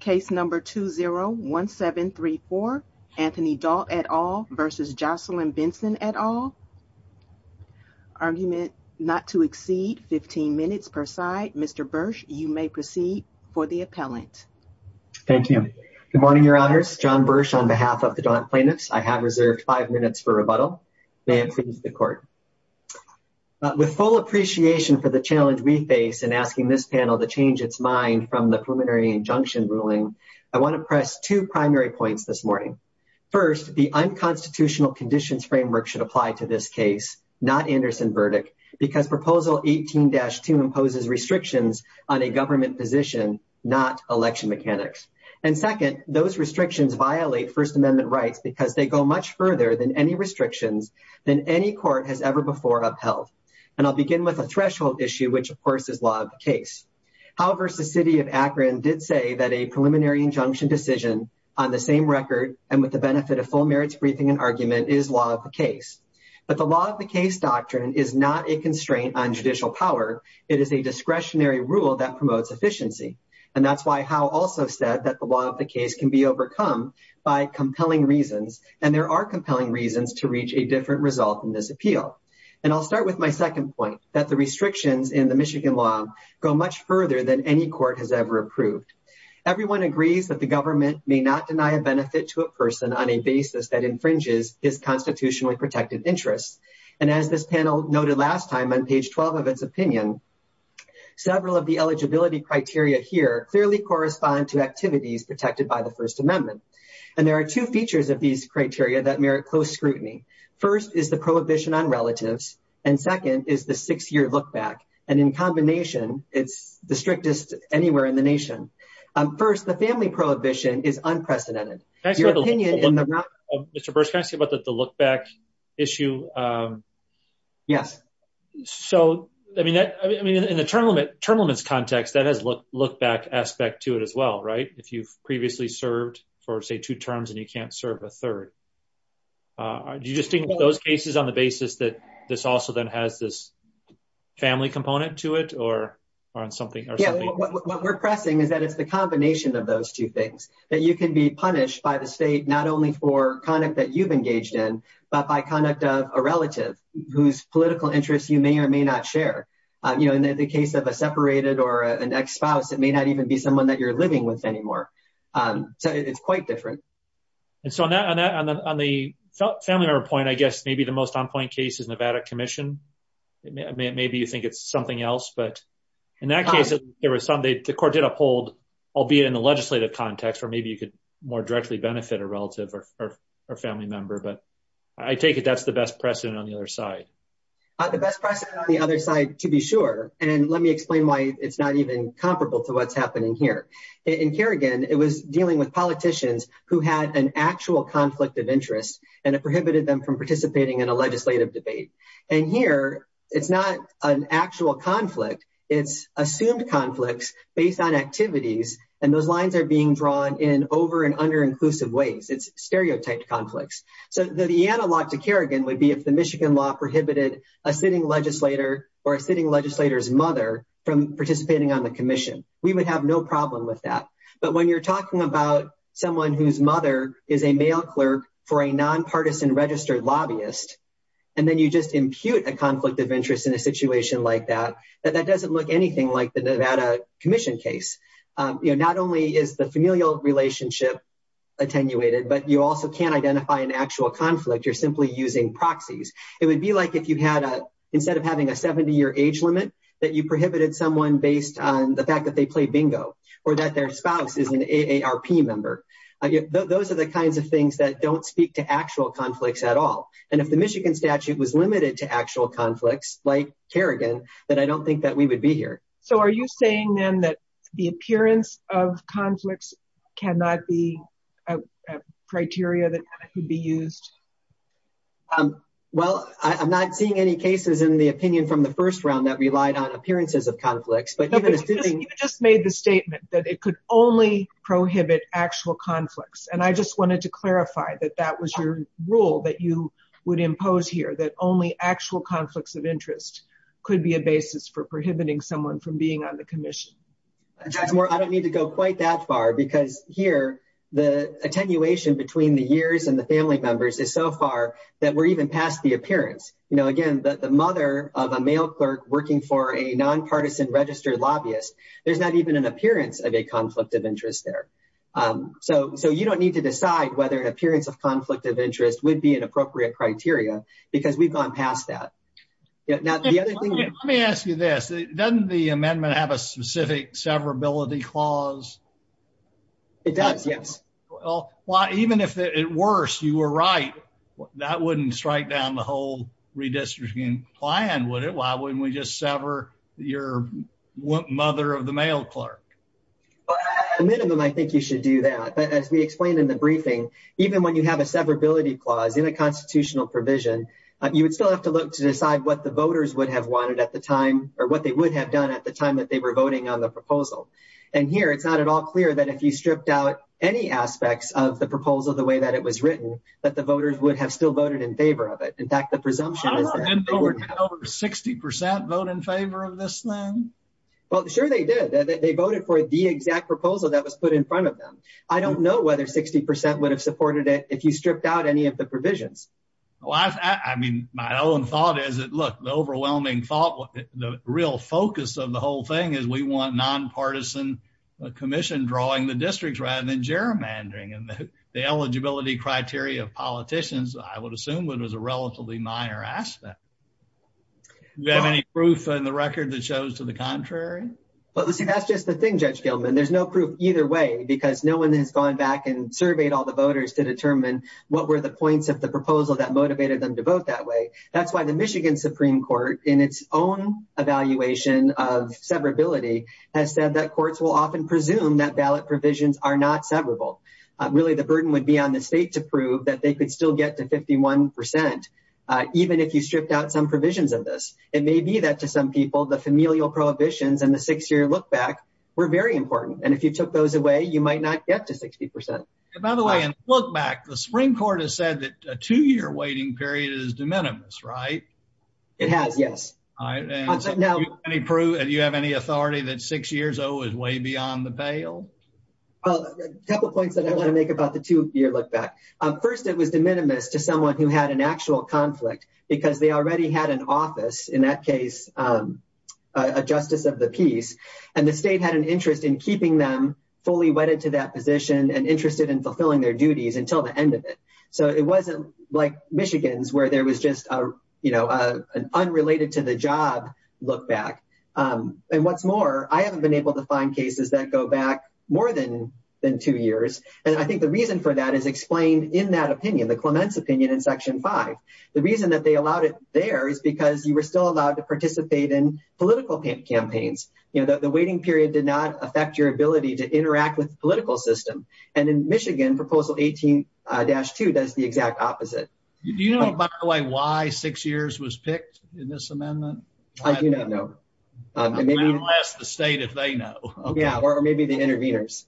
Case number 201734 Anthony Daunt et al. v. Jocelyn Benson et al. Argument not to exceed 15 minutes per side. Mr. Bursch, you may proceed for the appellant. Thank you. Good morning, your honors. John Bursch on behalf of the Daunt plaintiffs. I have reserved five minutes for rebuttal. May it please the court. With full appreciation for the challenge we face in asking this panel to change its mind from the preliminary injunction ruling, I want to press two primary points this morning. First, the unconstitutional conditions framework should apply to this case, not Anderson verdict, because proposal 18-2 imposes restrictions on a government position, not election mechanics. And second, those restrictions violate First Amendment rights because they go much further than any restrictions than any court has ever upheld. And I'll begin with a threshold issue, which, of course, is law of the case. Howe v. City of Akron did say that a preliminary injunction decision on the same record and with the benefit of full merits briefing and argument is law of the case. But the law of the case doctrine is not a constraint on judicial power. It is a discretionary rule that promotes efficiency. And that's why Howe also said that the law of the case can be overcome by compelling reasons, and there are compelling reasons to reach a different result in this appeal. And I'll start with my second point, that the restrictions in the Michigan law go much further than any court has ever approved. Everyone agrees that the government may not deny a benefit to a person on a basis that infringes his constitutionally protected interests. And as this panel noted last time on page 12 of its opinion, several of the eligibility criteria here clearly correspond to activities protected by the First Amendment. And there are two features of these criteria that merit close scrutiny. First is the prohibition on relatives, and second is the six-year look-back. And in combination, it's the strictest anywhere in the nation. First, the family prohibition is unprecedented. Your opinion in the- Can I say something about the look-back issue? Yes. So, I mean, in the term limits context, that has look-back aspect to it as well, right? If you've served for, say, two terms and you can't serve a third. Do you distinguish those cases on the basis that this also then has this family component to it or on something else? Yeah, what we're pressing is that it's the combination of those two things, that you can be punished by the state not only for conduct that you've engaged in, but by conduct of a relative whose political interests you may or may not share. You know, in the case of a separated or an ex-spouse, it may not even be someone that you're living with anymore. So, it's quite different. And so, on the family member point, I guess maybe the most on-point case is Nevada Commission. Maybe you think it's something else, but in that case, the court did uphold, albeit in the legislative context, where maybe you could more directly benefit a relative or family member. But I take it that's the best precedent on the other side. The best precedent on the other side, to be sure. And let me explain why it's not even to what's happening here. In Kerrigan, it was dealing with politicians who had an actual conflict of interest, and it prohibited them from participating in a legislative debate. And here, it's not an actual conflict. It's assumed conflicts based on activities, and those lines are being drawn in over- and under-inclusive ways. It's stereotyped conflicts. So, the analog to Kerrigan would be if the Michigan law prohibited a sitting legislator or a sitting legislator's mother from participating on the commission, we would have no problem with that. But when you're talking about someone whose mother is a mail clerk for a non-partisan registered lobbyist, and then you just impute a conflict of interest in a situation like that, that doesn't look anything like the Nevada Commission case. Not only is the familial relationship attenuated, but you also can't identify an actual conflict. You're simply using proxies. It would be like if you had a, instead of having a 70-year age limit, that you prohibited someone based on the fact that they play bingo, or that their spouse is an AARP member. Those are the kinds of things that don't speak to actual conflicts at all. And if the Michigan statute was limited to actual conflicts like Kerrigan, then I don't think that we would be here. So, are you saying then that the appearance of conflicts cannot be a criteria that could be used? Well, I'm not seeing any cases in the opinion from the first round that relied on appearances of conflicts. You just made the statement that it could only prohibit actual conflicts. And I just wanted to clarify that that was your rule that you would impose here, that only actual conflicts of interest could be a basis for prohibiting someone from being on the commission. I don't need to go quite that far, because here, the attenuation between the years and the family members is so far that we're even past the appearance. Again, the mother of a male clerk working for a nonpartisan registered lobbyist, there's not even an appearance of a conflict of interest there. So, you don't need to decide whether an appearance of conflict of interest would be an appropriate criteria, because we've gone past that. Let me ask you this. Doesn't the amendment have a specific severability clause? It does, yes. Well, even if at worst you were right, that wouldn't strike down the whole redistricting plan, would it? Why wouldn't we just sever your mother of the male clerk? At a minimum, I think you should do that. But as we explained in the briefing, even when you have a severability clause in a constitutional provision, you would still have to look to decide what the voters would have wanted at the time, or what they would have done at the time that they were voting on the proposal. And here, it's not at all clear that if you stripped out any aspects of the proposal the way that it was written, that the voters would have still voted in favor of it. In fact, the presumption is that- I don't know. Didn't they get over 60% vote in favor of this then? Well, sure they did. They voted for the exact proposal that was put in front of them. I don't know whether 60% would have supported it if you stripped out any of the provisions. Well, I mean, my own thought is that, look, the overwhelming thought, the real focus of the whole thing is we want nonpartisan commission drawing the districts rather than gerrymandering. And the eligibility criteria of politicians, I would assume, was a relatively minor aspect. Do you have any proof in the record that shows to the contrary? Well, see, that's just the thing, Judge Gilman. There's no proof either way, because no one has gone back and surveyed all the voters to determine what were the points of the proposal that motivated them to vote that way. That's why the Michigan Supreme Court, in its own evaluation of severability, has said that courts will often presume that ballot provisions are not severable. Really, the burden would be on the state to prove that they could still get to 51%, even if you stripped out some provisions of this. It may be that, to some people, the familial prohibitions and the six-year look-back were very important. And if you took those away, you might not get to 60%. By the way, in the look-back, the Supreme Court has said that a two-year waiting period is de minimis, right? It has, yes. Do you have any authority that six years, though, is way beyond the bail? Well, a couple of points that I want to make about the two-year look-back. First, it was de minimis to someone who had an actual conflict, because they already had an office, in that case, a justice of the peace. And the state had an interest in keeping them fully wedded to that position and interested in fulfilling their duties until the end of it. So it wasn't like Michigan's, where there was just an unrelated-to-the-job look-back. And what's more, I haven't been able to find cases that go back more than two years. And I think the reason for that is explained in that opinion, the Clements opinion in Section 5. The reason that they allowed it there is because you were still allowed to participate in political campaigns. The waiting period did not affect your ability to interact with the opposite. Do you know, by the way, why six years was picked in this amendment? I do not know. I'm going to ask the state if they know. Yeah, or maybe the interveners.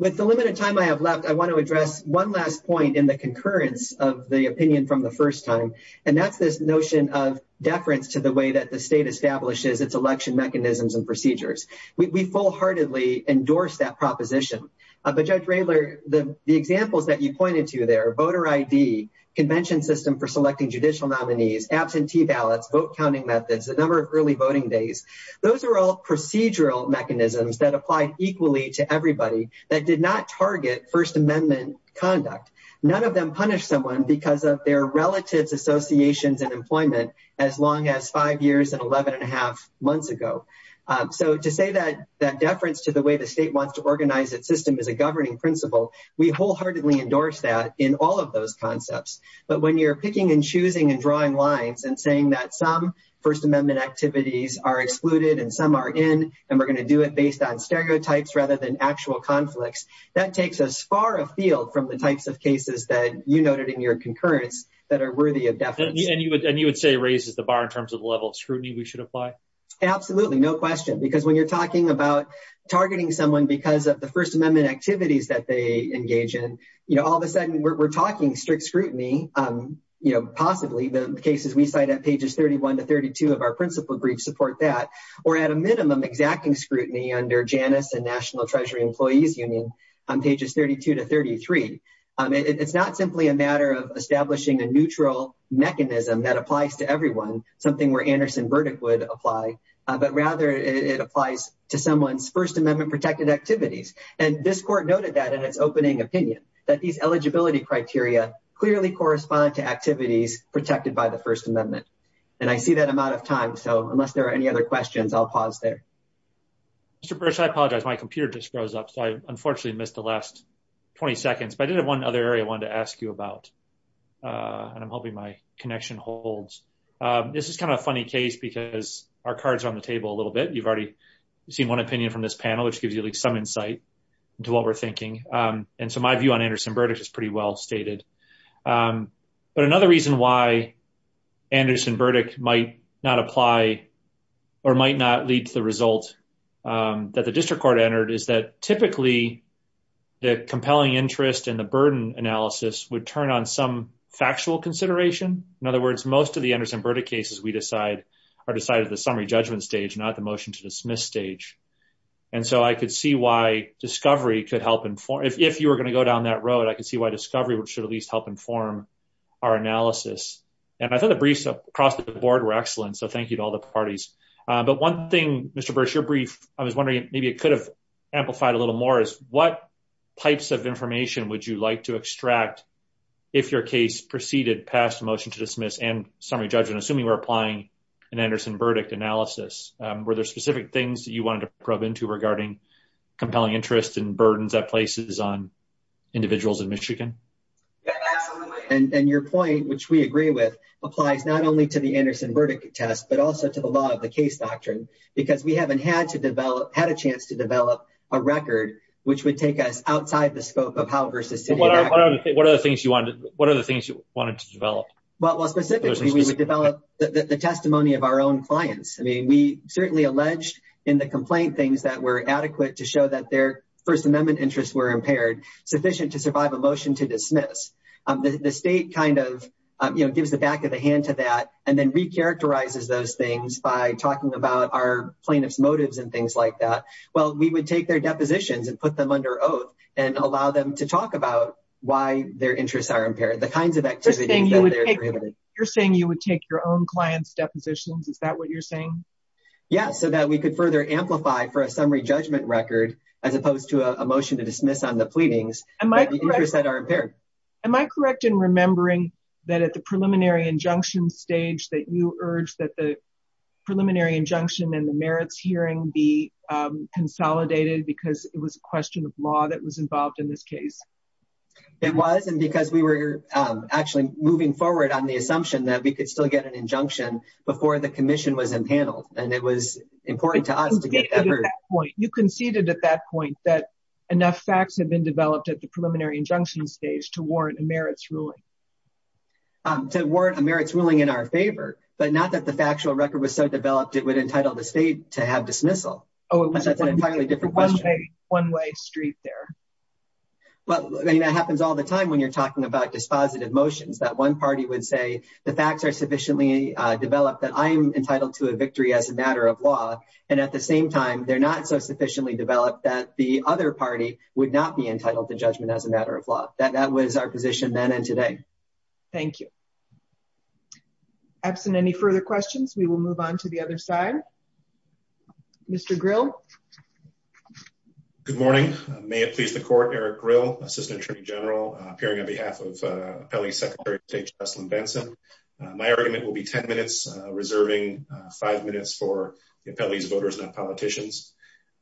With the limited time I have left, I want to address one last point in the concurrence of the opinion from the first time, and that's this notion of deference to the way that the state establishes its election mechanisms and procedures. We full-heartedly endorse that proposition. But Judge Raylor, the examples that you pointed to there, voter ID, convention system for selecting judicial nominees, absentee ballots, vote counting methods, a number of early voting days, those are all procedural mechanisms that apply equally to everybody that did not target First Amendment conduct. None of them punished someone because of their relatives, associations, and employment as long as five years and 11 1⁄2 months ago. So to say that deference to the way the state wants to organize its system is a governing principle, we wholeheartedly endorse that in all of those concepts. But when you're picking and choosing and drawing lines and saying that some First Amendment activities are excluded and some are in and we're going to do it based on stereotypes rather than actual conflicts, that takes us far afield from the types of cases that you noted in your concurrence that are worthy of deference. And you would say raises the bar in terms of the level of scrutiny we should apply? Absolutely, no question. Because when you're talking about targeting someone because of the First Amendment activities that they engage in, all of a sudden we're talking strict scrutiny, possibly the cases we cite at pages 31 to 32 of our principal brief support that, or at a minimum exacting scrutiny under Janus and National Treasury Employees Union on pages 32 to 33. It's not simply a matter of establishing a neutral mechanism that applies to everyone, something where Anderson-Burdick would apply, but rather it applies to someone's First Amendment protected activities. And this court noted that in its opening opinion, that these eligibility criteria clearly correspond to activities protected by the First Amendment. And I see that I'm out of time, so unless there are any other questions, I'll pause there. Mr. Bursch, I apologize, my computer just froze up, so I unfortunately missed the last 20 seconds, but I did have one other area I wanted to ask you about, and I'm hoping my connection holds. This is kind of a funny case because our cards are on the table a little bit. You've already seen one opinion from this panel, which gives you at least some insight into what we're thinking. And so my view on Anderson-Burdick is pretty well stated. But another reason why Anderson-Burdick might not apply or might not lead to the result that the district court entered is that typically the compelling interest and the burden analysis would turn on some factual consideration. In other words, most of the Anderson-Burdick cases are decided at the summary judgment stage, not the motion to dismiss stage. And so I could see why discovery could help inform, if you were going to go down that road, I could see why discovery should at least help inform our analysis. And I thought the briefs across the board were excellent, so thank you to all the parties. But one thing, Mr. Bursch, your brief, I was wondering, maybe it could have amplified a little more, is what types of if your case proceeded past the motion to dismiss and summary judgment, assuming we're applying an Anderson-Burdick analysis, were there specific things that you wanted to probe into regarding compelling interest and burdens that places on individuals in Michigan? And your point, which we agree with, applies not only to the Anderson-Burdick test, but also to the law of the case doctrine, because we haven't had to develop, had a chance to develop a record, which would take us outside the scope of how versus city. What are the things you wanted to develop? Well, specifically, we would develop the testimony of our own clients. I mean, we certainly alleged in the complaint things that were adequate to show that their First Amendment interests were impaired, sufficient to survive a motion to dismiss. The state kind of gives the back of the hand to that, and then recharacterizes those things by talking about our plaintiff's motives and things like that. Well, we would take their depositions and put them under oath and allow them to talk about why their interests are impaired, the kinds of activities that they're prohibited. You're saying you would take your own client's depositions, is that what you're saying? Yeah, so that we could further amplify for a summary judgment record, as opposed to a motion to dismiss on the pleadings that the interests that are impaired. Am I correct in remembering that at the preliminary injunction stage that you and the merits hearing be consolidated because it was a question of law that was involved in this case? It was, and because we were actually moving forward on the assumption that we could still get an injunction before the commission was impaneled, and it was important to us to get that heard. You conceded at that point that enough facts had been developed at the preliminary injunction stage to warrant a merits ruling. To warrant a merits ruling in our favor, but not that the factual record was so developed, it would entitle the state to have dismissal. That's an entirely different question. One way street there. But that happens all the time when you're talking about dispositive motions, that one party would say the facts are sufficiently developed that I am entitled to a victory as a matter of law, and at the same time, they're not so sufficiently developed that the other party would not be entitled to judgment as a matter of law. That was our position then and today. Thank you. Absent any further questions, we will move on to the other side. Mr. Grill. Good morning. May it please the court, Eric Grill, Assistant Attorney General, appearing on behalf of Appellee Secretary of State Jessalyn Benson. My argument will be 10 minutes, reserving five minutes for the appellees, voters, and politicians.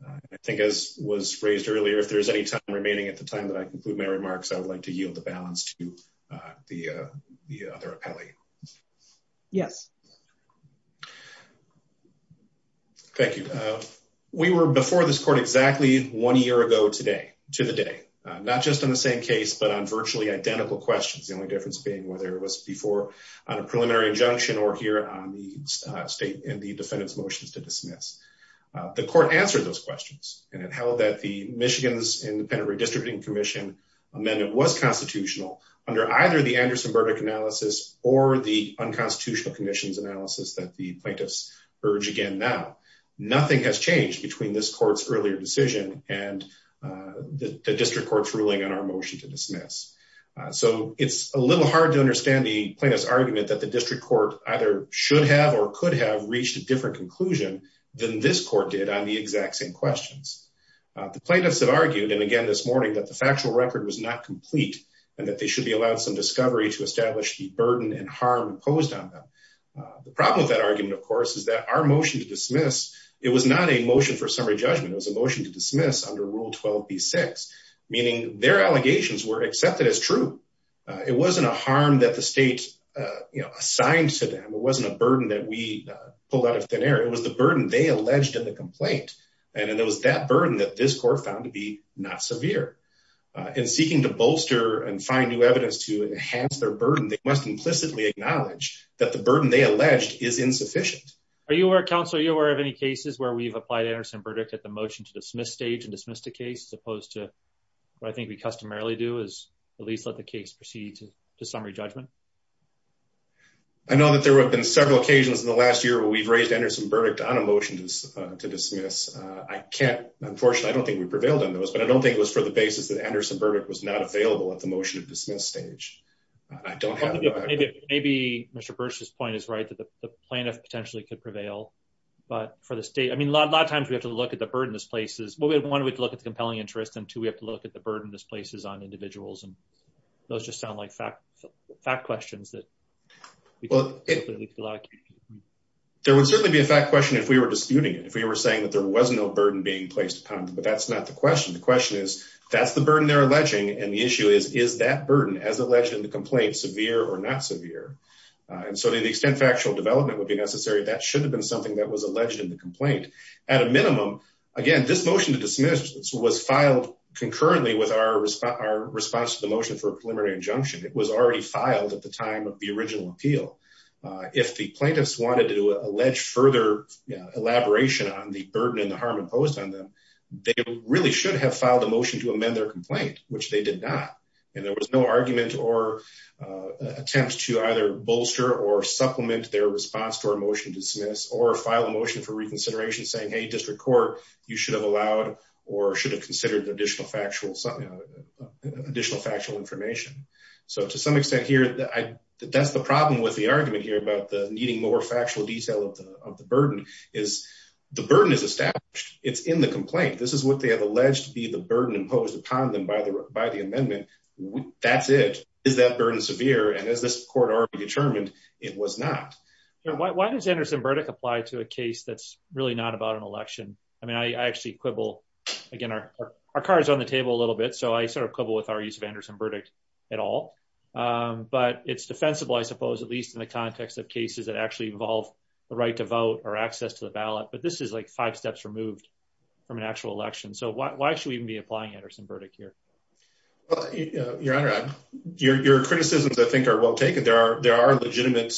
I think as was phrased earlier, if there's any time remaining at the time that I conclude my comments, I will be able to provide a balance to the other appellee. Yes. Thank you. We were before this court exactly one year ago today, to the day, not just on the same case, but on virtually identical questions. The only difference being whether it was before on a preliminary injunction or here on the state and the defendant's motions to dismiss. The court answered those questions, and it held that the Michigan's Independent Redistricting Commission amendment was constitutional under either the Anderson verdict analysis or the unconstitutional conditions analysis that the plaintiffs urge again now. Nothing has changed between this court's earlier decision and the district court's ruling on our motion to dismiss. So it's a little hard to understand the plaintiff's argument that the district court either should have or could have reached a different conclusion than this court did on the exact same questions. The plaintiffs have argued. And again, this morning that the factual record was not complete and that they should be allowed some discovery to establish the burden and harm imposed on them. The problem with that argument, of course, is that our motion to dismiss, it was not a motion for summary judgment. It was a motion to dismiss under rule 12B6, meaning their allegations were accepted as true. It wasn't a harm that the state assigned to them. It wasn't a burden that we pulled out of thin air. It was the burden they alleged in the complaint. And it was that burden that this court found to be not severe. In seeking to bolster and find new evidence to enhance their burden, they must implicitly acknowledge that the burden they alleged is insufficient. Are you aware, counsel, are you aware of any cases where we've applied Anderson verdict at the motion to dismiss stage and dismiss the case as opposed to what I think we customarily do is at least let the case proceed to summary judgment? I know that there have been several occasions in the last year where we've raised Anderson verdict on a motion to dismiss. I can't, unfortunately, I don't think we prevailed on those, but I don't think it was for the basis that Anderson verdict was not available at the motion to dismiss stage. I don't have it. Maybe Mr. Bursch's point is right that the plaintiff potentially could prevail, but for the state, I mean, a lot of times we have to look at the burden this place is, one, we'd look at the compelling interest and two, we have to look at burden this place is on individuals. And those just sound like fact questions that there would certainly be a fact question if we were disputing it, if we were saying that there was no burden being placed upon them, but that's not the question. The question is that's the burden they're alleging. And the issue is, is that burden as alleged in the complaint severe or not severe? And so to the extent factual development would be necessary, that should have been something that was alleged in the complaint at a minimum. Again, this motion to dismiss was filed concurrently with our response to the motion for a preliminary injunction. It was already filed at the time of the original appeal. If the plaintiffs wanted to allege further elaboration on the burden and the harm imposed on them, they really should have filed a motion to amend their complaint, which they did not. And there was no argument or attempt to either bolster or supplement their response to our motion to dismiss or file a motion for reconsideration saying, hey, district court, you should have allowed or should have considered the additional factual information. So to some extent here, that's the problem with the argument here about the needing more factual detail of the burden is the burden is established. It's in the complaint. This is what they have alleged to be the burden imposed upon them by the amendment. That's it. Is that burden severe? And as this court already determined, it was not. Why does Anderson-Burdick apply to a election? I mean, I actually quibble. Again, our car is on the table a little bit. So I sort of quibble with our use of Anderson-Burdick at all. But it's defensible, I suppose, at least in the context of cases that actually involve the right to vote or access to the ballot. But this is like five steps removed from an actual election. So why should we even be applying Anderson-Burdick here? Your Honor, your criticisms, I think, are well taken. There are legitimate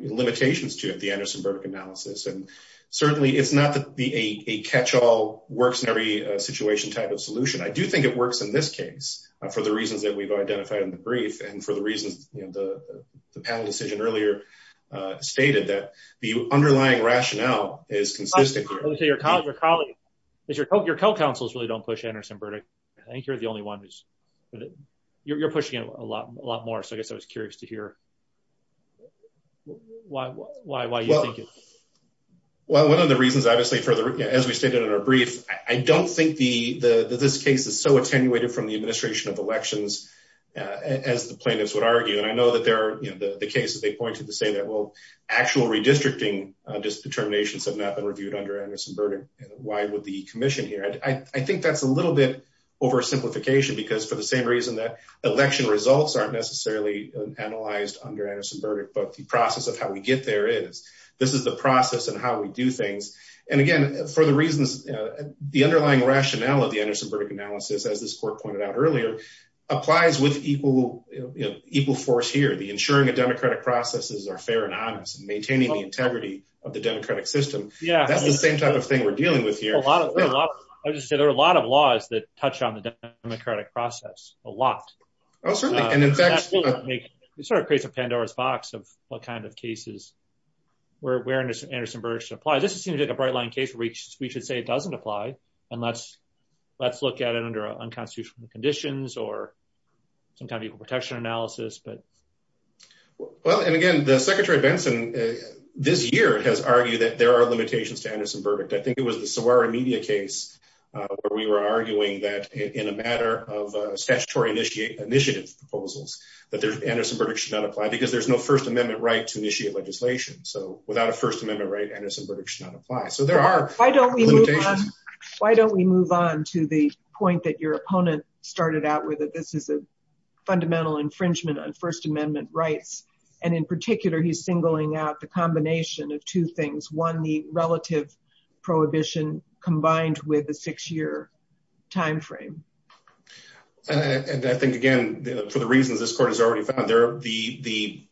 limitations to it, the Anderson-Burdick analysis. And certainly it's not that a catch-all works in every situation type of solution. I do think it works in this case for the reasons that we've identified in the brief and for the reasons the panel decision earlier stated that the underlying rationale is consistent. Your colleagues, your co-counsels really don't push Anderson-Burdick. I think you're the only one who's, you're pushing it a lot more. So I guess I was curious to hear why you're thinking. Well, one of the reasons, obviously, as we stated in our brief, I don't think this case is so attenuated from the administration of elections as the plaintiffs would argue. And I know that there are the cases they pointed to say that, well, actual redistricting determinations have not been reviewed under Anderson-Burdick. Why would the commission here? I think that's a little bit oversimplification because for the we get there is, this is the process and how we do things. And again, for the reasons, the underlying rationale of the Anderson-Burdick analysis, as this court pointed out earlier, applies with equal force here. The ensuring a democratic processes are fair and honest and maintaining the integrity of the democratic system. That's the same type of thing we're dealing with here. I would just say there are a lot of laws that touch on the democratic process a lot. It sort of creates a Pandora's box of what kind of cases where Anderson-Burdick should apply. This seems like a bright line case where we should say it doesn't apply. And let's look at it under unconstitutional conditions or some kind of equal protection analysis. Well, and again, the secretary Benson this year has argued that there are limitations to Anderson-Burdick. I think it was the Saguaro media case where we were arguing that in a matter of a statutory initiative proposals that there's Anderson-Burdick should not apply because there's no first amendment right to initiate legislation. So without a first amendment right, Anderson-Burdick should not apply. So there are. Why don't we move on to the point that your opponent started out with it. This is a fundamental infringement on first amendment rights. And in particular, he's singling out the combination of two things. One, the relative prohibition combined with the time frame. And I think, again, for the reasons this court has already found there, the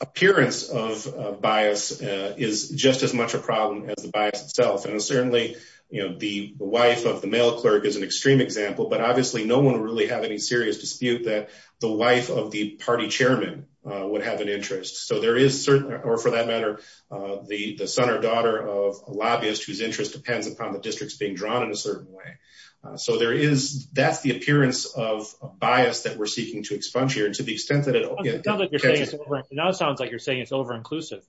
appearance of bias is just as much a problem as the bias itself. And certainly, you know, the wife of the mail clerk is an extreme example. But obviously, no one really have any serious dispute that the wife of the party chairman would have an interest. So there is certainly or for that matter, the son or daughter of a lobbyist whose interest depends on the districts being drawn in a certain way. So there is that's the appearance of bias that we're seeking to expunge here to the extent that it sounds like you're saying it's over inclusive.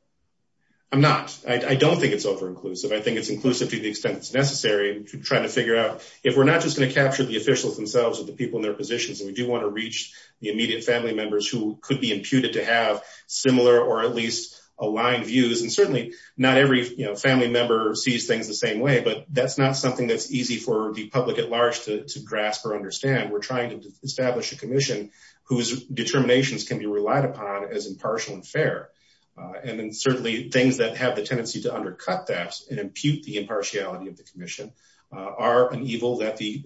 I'm not. I don't think it's over inclusive. I think it's inclusive to the extent that's necessary to try to figure out if we're not just going to capture the officials themselves or the people in their positions. And we do want to reach the immediate family members who could be imputed to have similar or at least aligned views. And certainly not every family member sees things the same way. But that's not something that's easy for the public at large to grasp or understand. We're trying to establish a commission whose determinations can be relied upon as impartial and fair. And then certainly things that have the tendency to undercut that and impute the impartiality of the commission are an evil that the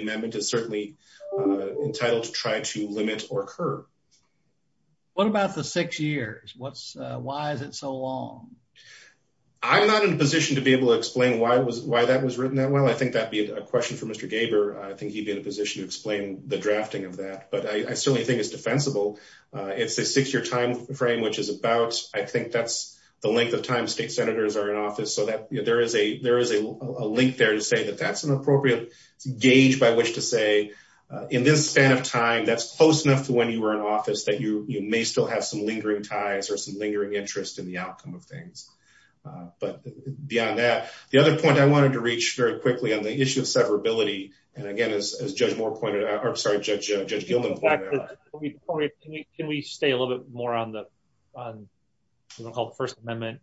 amendment is certainly entitled to try to limit or curb. What about the six years? Why is it so long? I'm not in a position to be able to explain why that was written that well. I think that'd be a question for Mr. Gaber. I think he'd be in a position to explain the drafting of that. But I certainly think it's defensible. It's a six year time frame, which is about, I think that's the length of time state senators are in office. So there is a link there to say that that's an appropriate gauge by which to say in this span of time, that's close enough to when you were in office that you may still have some lingering ties or some lingering interest in the outcome of but beyond that, the other point I wanted to reach very quickly on the issue of severability. And again, as Judge Moore pointed out, or sorry, Judge Gilman. Can we stay a little bit more on what we call the First Amendment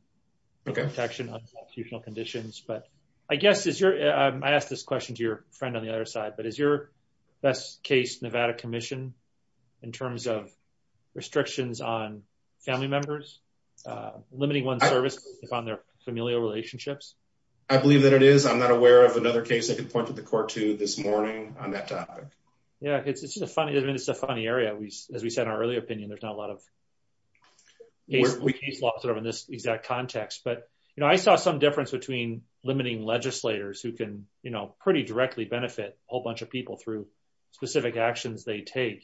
protection on constitutional conditions? But I guess I asked this question to your friend on the other side, but is your best case Nevada commission in terms of restrictions on family members, limiting one service on their familial relationships? I believe that it is. I'm not aware of another case I can point to the court to this morning on that topic. Yeah, it's a funny, it's a funny area. We, as we said, our early opinion, there's not a lot of cases in this exact context. But, you know, I saw some difference between limiting legislators who can, you know, pretty directly benefit a whole bunch of people through specific actions they take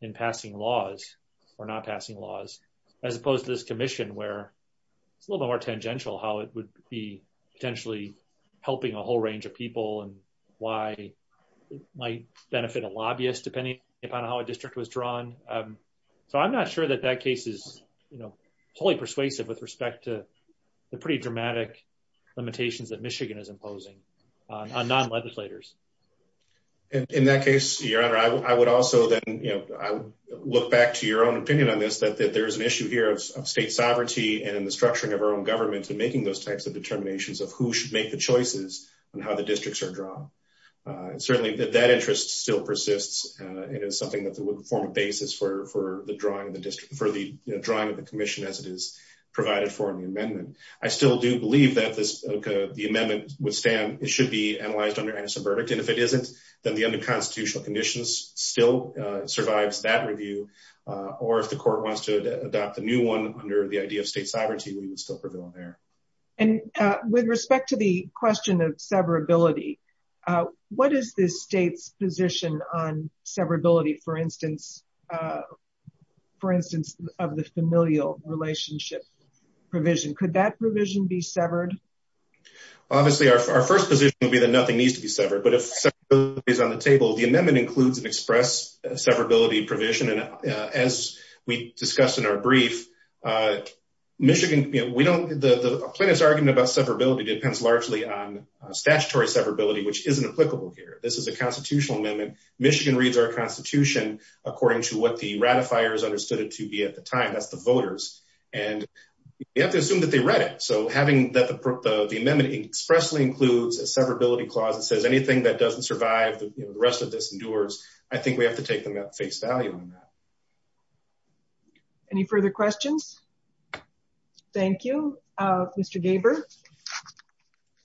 in passing laws or not passing laws, as opposed to this commission, where it's a little more tangential, how it would be potentially helping a whole range of people and why it might benefit a lobbyist, depending upon how a district was drawn. So I'm not sure that that case is, you know, totally persuasive with respect to the pretty dramatic limitations that I would also then, you know, look back to your own opinion on this, that there's an issue here of state sovereignty and in the structuring of our own government and making those types of determinations of who should make the choices and how the districts are drawn. Certainly that that interest still persists. It is something that would form a basis for the drawing of the district, for the drawing of the commission as it is provided for in the amendment. I still do believe that this, the amendment would stand, it should be analyzed under Aniston verdict. And if it isn't, then the under constitutional conditions still survives that review. Or if the court wants to adopt a new one under the idea of state sovereignty, we would still prevail on there. And with respect to the question of severability, what is this state's position on severability, for instance, for instance, of the familial relationship provision, could that provision be severed? But if severability is on the table, the amendment includes an express severability provision. And as we discussed in our brief, Michigan, we don't, the plaintiff's argument about severability depends largely on statutory severability, which isn't applicable here. This is a constitutional amendment. Michigan reads our constitution according to what the ratifiers understood it to be at the time, that's the voters. And you have to assume that they read so having that the amendment expressly includes a severability clause that says anything that doesn't survive the rest of this endures. I think we have to take them at face value on that. Any further questions? Thank you, Mr. Gaber.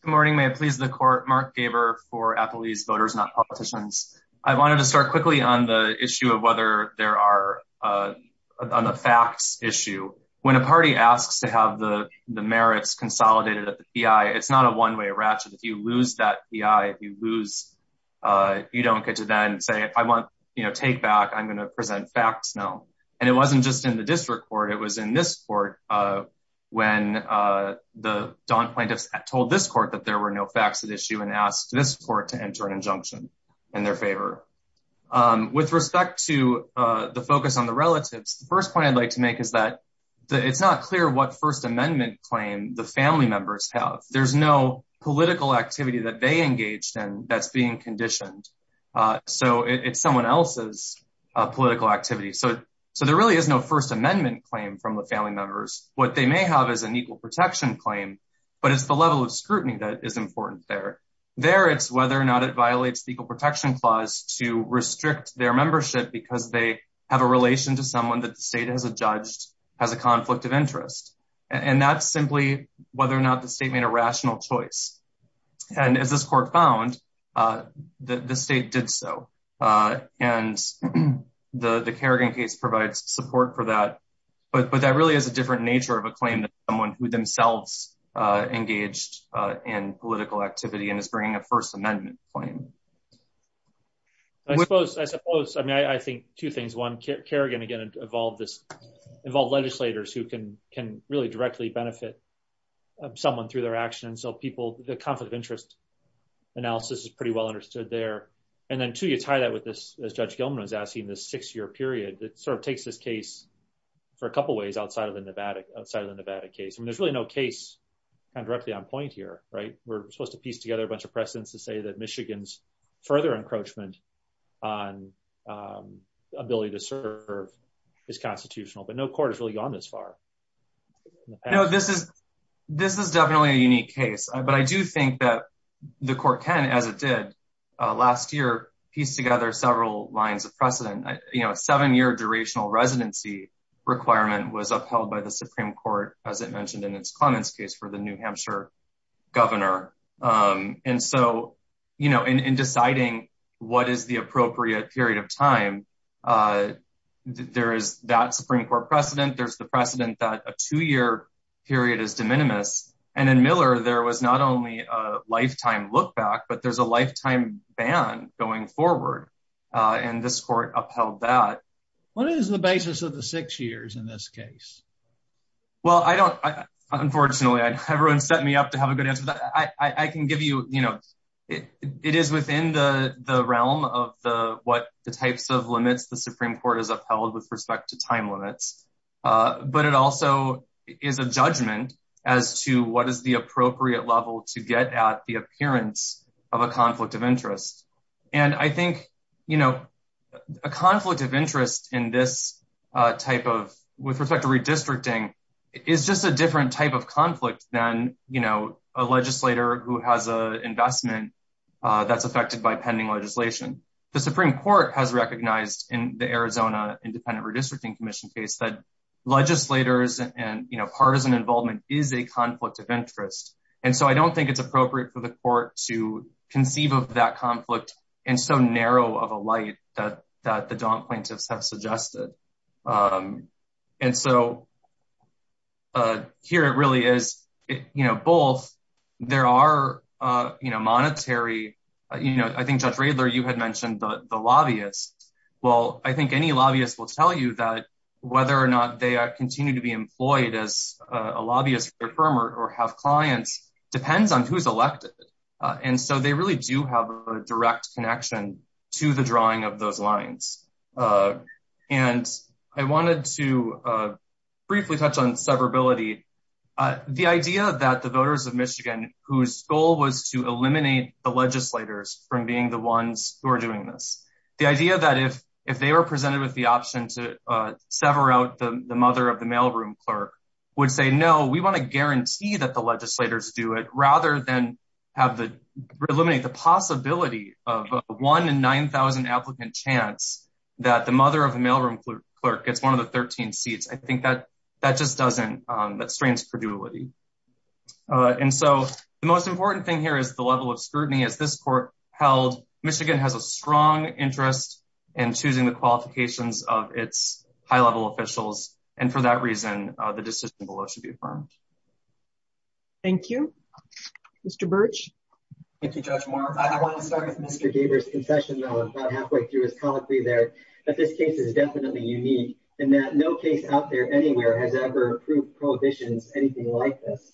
Good morning, may it please the court, Mark Gaber for Applebee's voters, not politicians. I wanted to start quickly on the issue of whether there are on the facts issue, when a party asks to have the merits consolidated at the PI, it's not a one way ratchet. If you lose that PI, if you lose, you don't get to then say if I want, you know, take back, I'm going to present facts now. And it wasn't just in the district court, it was in this court, when the Don plaintiffs told this court that there were no facts at issue and asked this court to enter an injunction in their favor. With respect to the focus on the relatives, the first point I'd like to make is that it's not clear what First Amendment claim the family members have, there's no political activity that they engaged in that's being conditioned. So it's someone else's political activity. So, so there really is no First Amendment claim from the family members, what they may have is an equal protection claim. But it's the level of scrutiny that is important there. There it's whether or not it violates the equal protection clause to restrict their membership because they have a relation to someone that the state has a judge has a conflict of interest. And that's simply whether or not the state made a rational choice. And as this court found that the state did so. And the Kerrigan case provides support for that. But that really is a different nature of a claim that someone who is themselves engaged in political activity and is bringing a First Amendment claim. I suppose I suppose I mean, I think two things one care again, again, evolve this involve legislators who can can really directly benefit someone through their actions. So people the conflict of interest analysis is pretty well understood there. And then to you tie that with this, as Judge Gilman was asking this six year period that sort of takes this case for a couple ways outside of the Nevada outside of the Nevada case. And there's really no case directly on point here, right, we're supposed to piece together a bunch of precedents to say that Michigan's further encroachment on ability to serve is constitutional, but no court has really gone this far. You know, this is, this is definitely a unique case. But I do think that the court can as it did last year, piece together several lines of precedent, you know, seven year durational residency requirement was upheld by the Supreme Court, as it mentioned in its comments case for the New Hampshire governor. And so, you know, in deciding what is the appropriate period of time, there is that Supreme Court precedent, there's the precedent that a two year period is de minimis. And in Miller, there was not only a lifetime look back, but there's a lifetime ban going forward. And this court upheld that what is the basis of the six years in this case? Well, I don't, unfortunately, I everyone set me up to have a good answer that I can give you, you know, it is within the realm of the what the types of limits the Supreme Court is upheld with respect to time limits. But it also is a judgment as to what is the appropriate level to get at the in this type of with respect to redistricting is just a different type of conflict than, you know, a legislator who has a investment that's affected by pending legislation. The Supreme Court has recognized in the Arizona Independent Redistricting Commission case that legislators and you know, partisan involvement is a conflict of interest. And so I don't think it's appropriate for the court to conceive of that conflict. And so narrow of a light that the don't plaintiffs have suggested. And so here, it really is, you know, both, there are, you know, monetary, you know, I think, Judge Radler, you had mentioned the lobbyists. Well, I think any lobbyist will tell you that whether or not they continue to be employed as a lobbyist or have clients depends on who's elected. And so they really do have a direct connection to the drawing of those lines. And I wanted to briefly touch on severability. The idea that the voters of Michigan, whose goal was to eliminate the legislators from being the ones who are doing this, the idea that if, if they were presented with the option to sever out the mother of the mailroom clerk would say, No, we want to guarantee that the legislators do it have the eliminate the possibility of one in 9000 applicant chance that the mother of a mailroom clerk gets one of the 13 seats. I think that that just doesn't, that strains credulity. And so the most important thing here is the level of scrutiny as this court held Michigan has a strong interest in choosing the qualifications of its high level officials. And for that reason, the decision below should be affirmed. Thank you, Mr. Birch. Thank you, Judge Moore. I want to start with Mr. Gaber's concession, though, about halfway through his colloquy there, that this case is definitely unique in that no case out there anywhere has ever proved prohibitions, anything like this.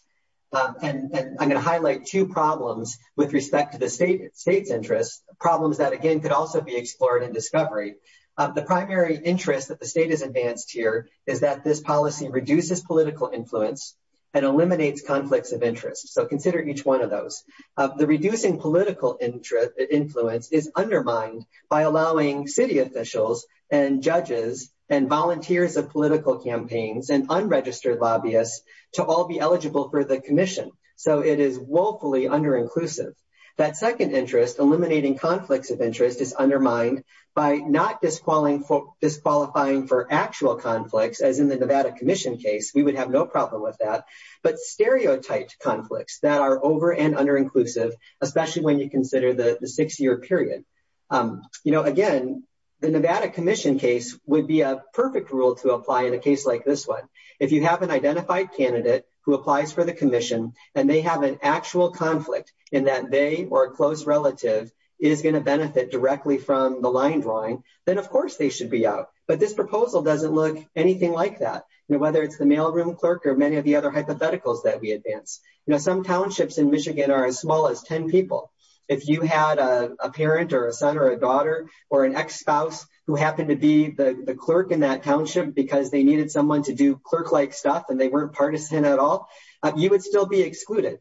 And I'm going to highlight two problems with respect to the state, state's interests, problems that again, could also be explored in discovery. The primary interest that the state has advanced here is that this policy reduces political influence and eliminates conflicts of interest. So consider each one of those. The reducing political interest influence is undermined by allowing city officials and judges and volunteers of political campaigns and unregistered lobbyists to all be eligible for the commission. So it is woefully under inclusive. That second interest eliminating conflicts of interest is undermined by not disqualifying for disqualifying for actual conflicts, as in the Nevada commission case, we would have no problem with that, but stereotyped conflicts that are over and under inclusive, especially when you consider the six year period. You know, again, the Nevada commission case would be a perfect rule to apply in a case like this one. If you have an identified candidate who applies for the commission and they have an actual conflict in that they or a close relative is going to benefit directly from the line drawing, then of course they should be out. But this proposal doesn't look anything like that, you know, whether it's the mailroom clerk or many of the other hypotheticals that we advance. You know, some townships in Michigan are as small as 10 people. If you had a parent or a son or a daughter or an ex spouse who happened to be the clerk in that township because they needed someone to do clerk like stuff and they weren't partisan at all, you would still be excluded.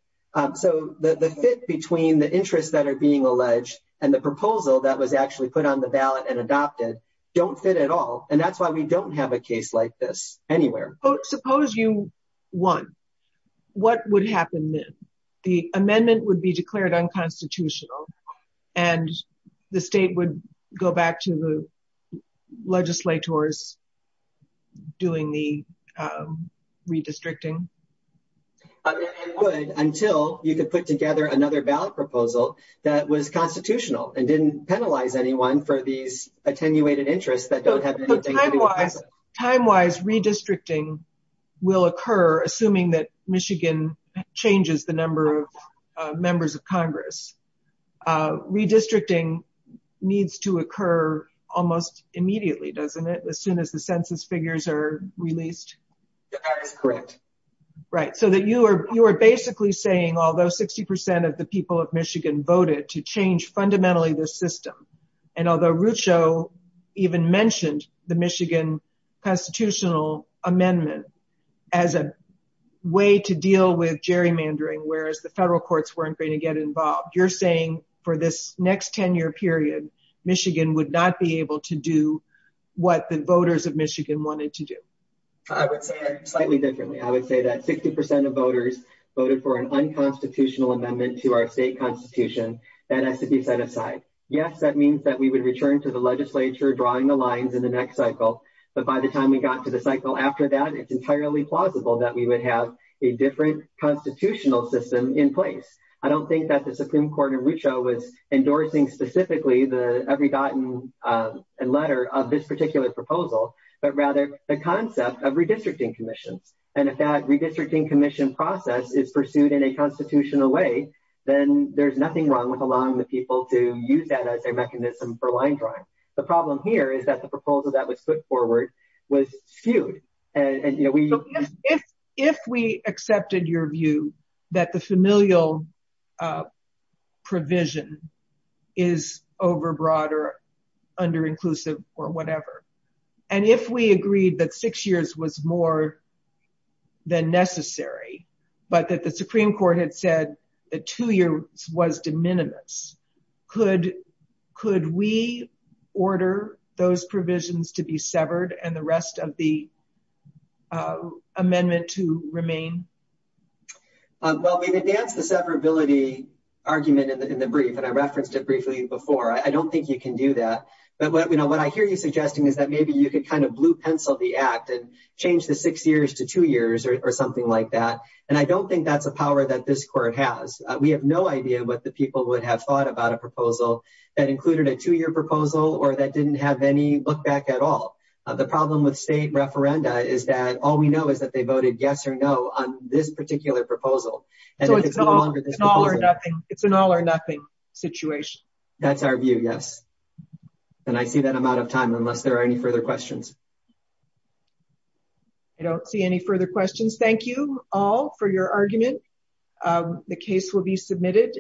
So the fit between the interests that are being alleged and the proposal that was actually put on the ballot and adopted don't fit at all. And that's why we don't have a case like this anywhere. Oh, suppose you won. What would happen then? The amendment would be declared unconstitutional and the state would go back to the legislators doing the redistricting? I mean, it would until you could put together another ballot proposal that was constitutional and didn't penalize anyone for these attenuated interests that don't have anything. Time-wise, redistricting will occur assuming that Michigan changes the number of members of Congress. Redistricting needs to occur almost immediately, doesn't it? As soon as the census figures are released? That is correct. Right. So that you are basically saying, although 60% of the people of Michigan voted to change fundamentally the system, and although Rucho even mentioned the Michigan constitutional amendment as a way to deal with gerrymandering, whereas the federal courts weren't going to get involved, you're saying for this next 10 year period, Michigan would not be able to do what the voters of Michigan wanted to do? I would say slightly differently. I would say that 60% of voters voted for an unconstitutional amendment to our state constitution that has to be set aside. Yes, that means that we would return to the legislature drawing the lines in the next cycle, but by the time we got to the cycle after that, it's entirely plausible that we would have a different constitutional system in place. I don't think that the Supreme Court in Rucho was endorsing specifically the every dot and letter of this particular proposal, but rather the concept of redistricting commissions. And if that redistricting commission process is pursued in a constitutional way, then there's nothing wrong with allowing the people to use that as a mechanism for line drawing. The problem here is that the proposal that was put forward was skewed. If we accepted your view that the familial provision is overbroad or underinclusive or than necessary, but that the Supreme Court had said a two-year was de minimis, could we order those provisions to be severed and the rest of the amendment to remain? Well, we've advanced the severability argument in the brief, and I referenced it briefly before. I don't think you can do that, but what I hear you suggesting is that maybe you could kind of or something like that. And I don't think that's a power that this court has. We have no idea what the people would have thought about a proposal that included a two-year proposal or that didn't have any look back at all. The problem with state referenda is that all we know is that they voted yes or no on this particular proposal. It's an all or nothing situation. That's our view, yes. And I see that I'm out of time unless there are any further questions. I don't see any further questions. Thank you all for your argument. The case will be submitted.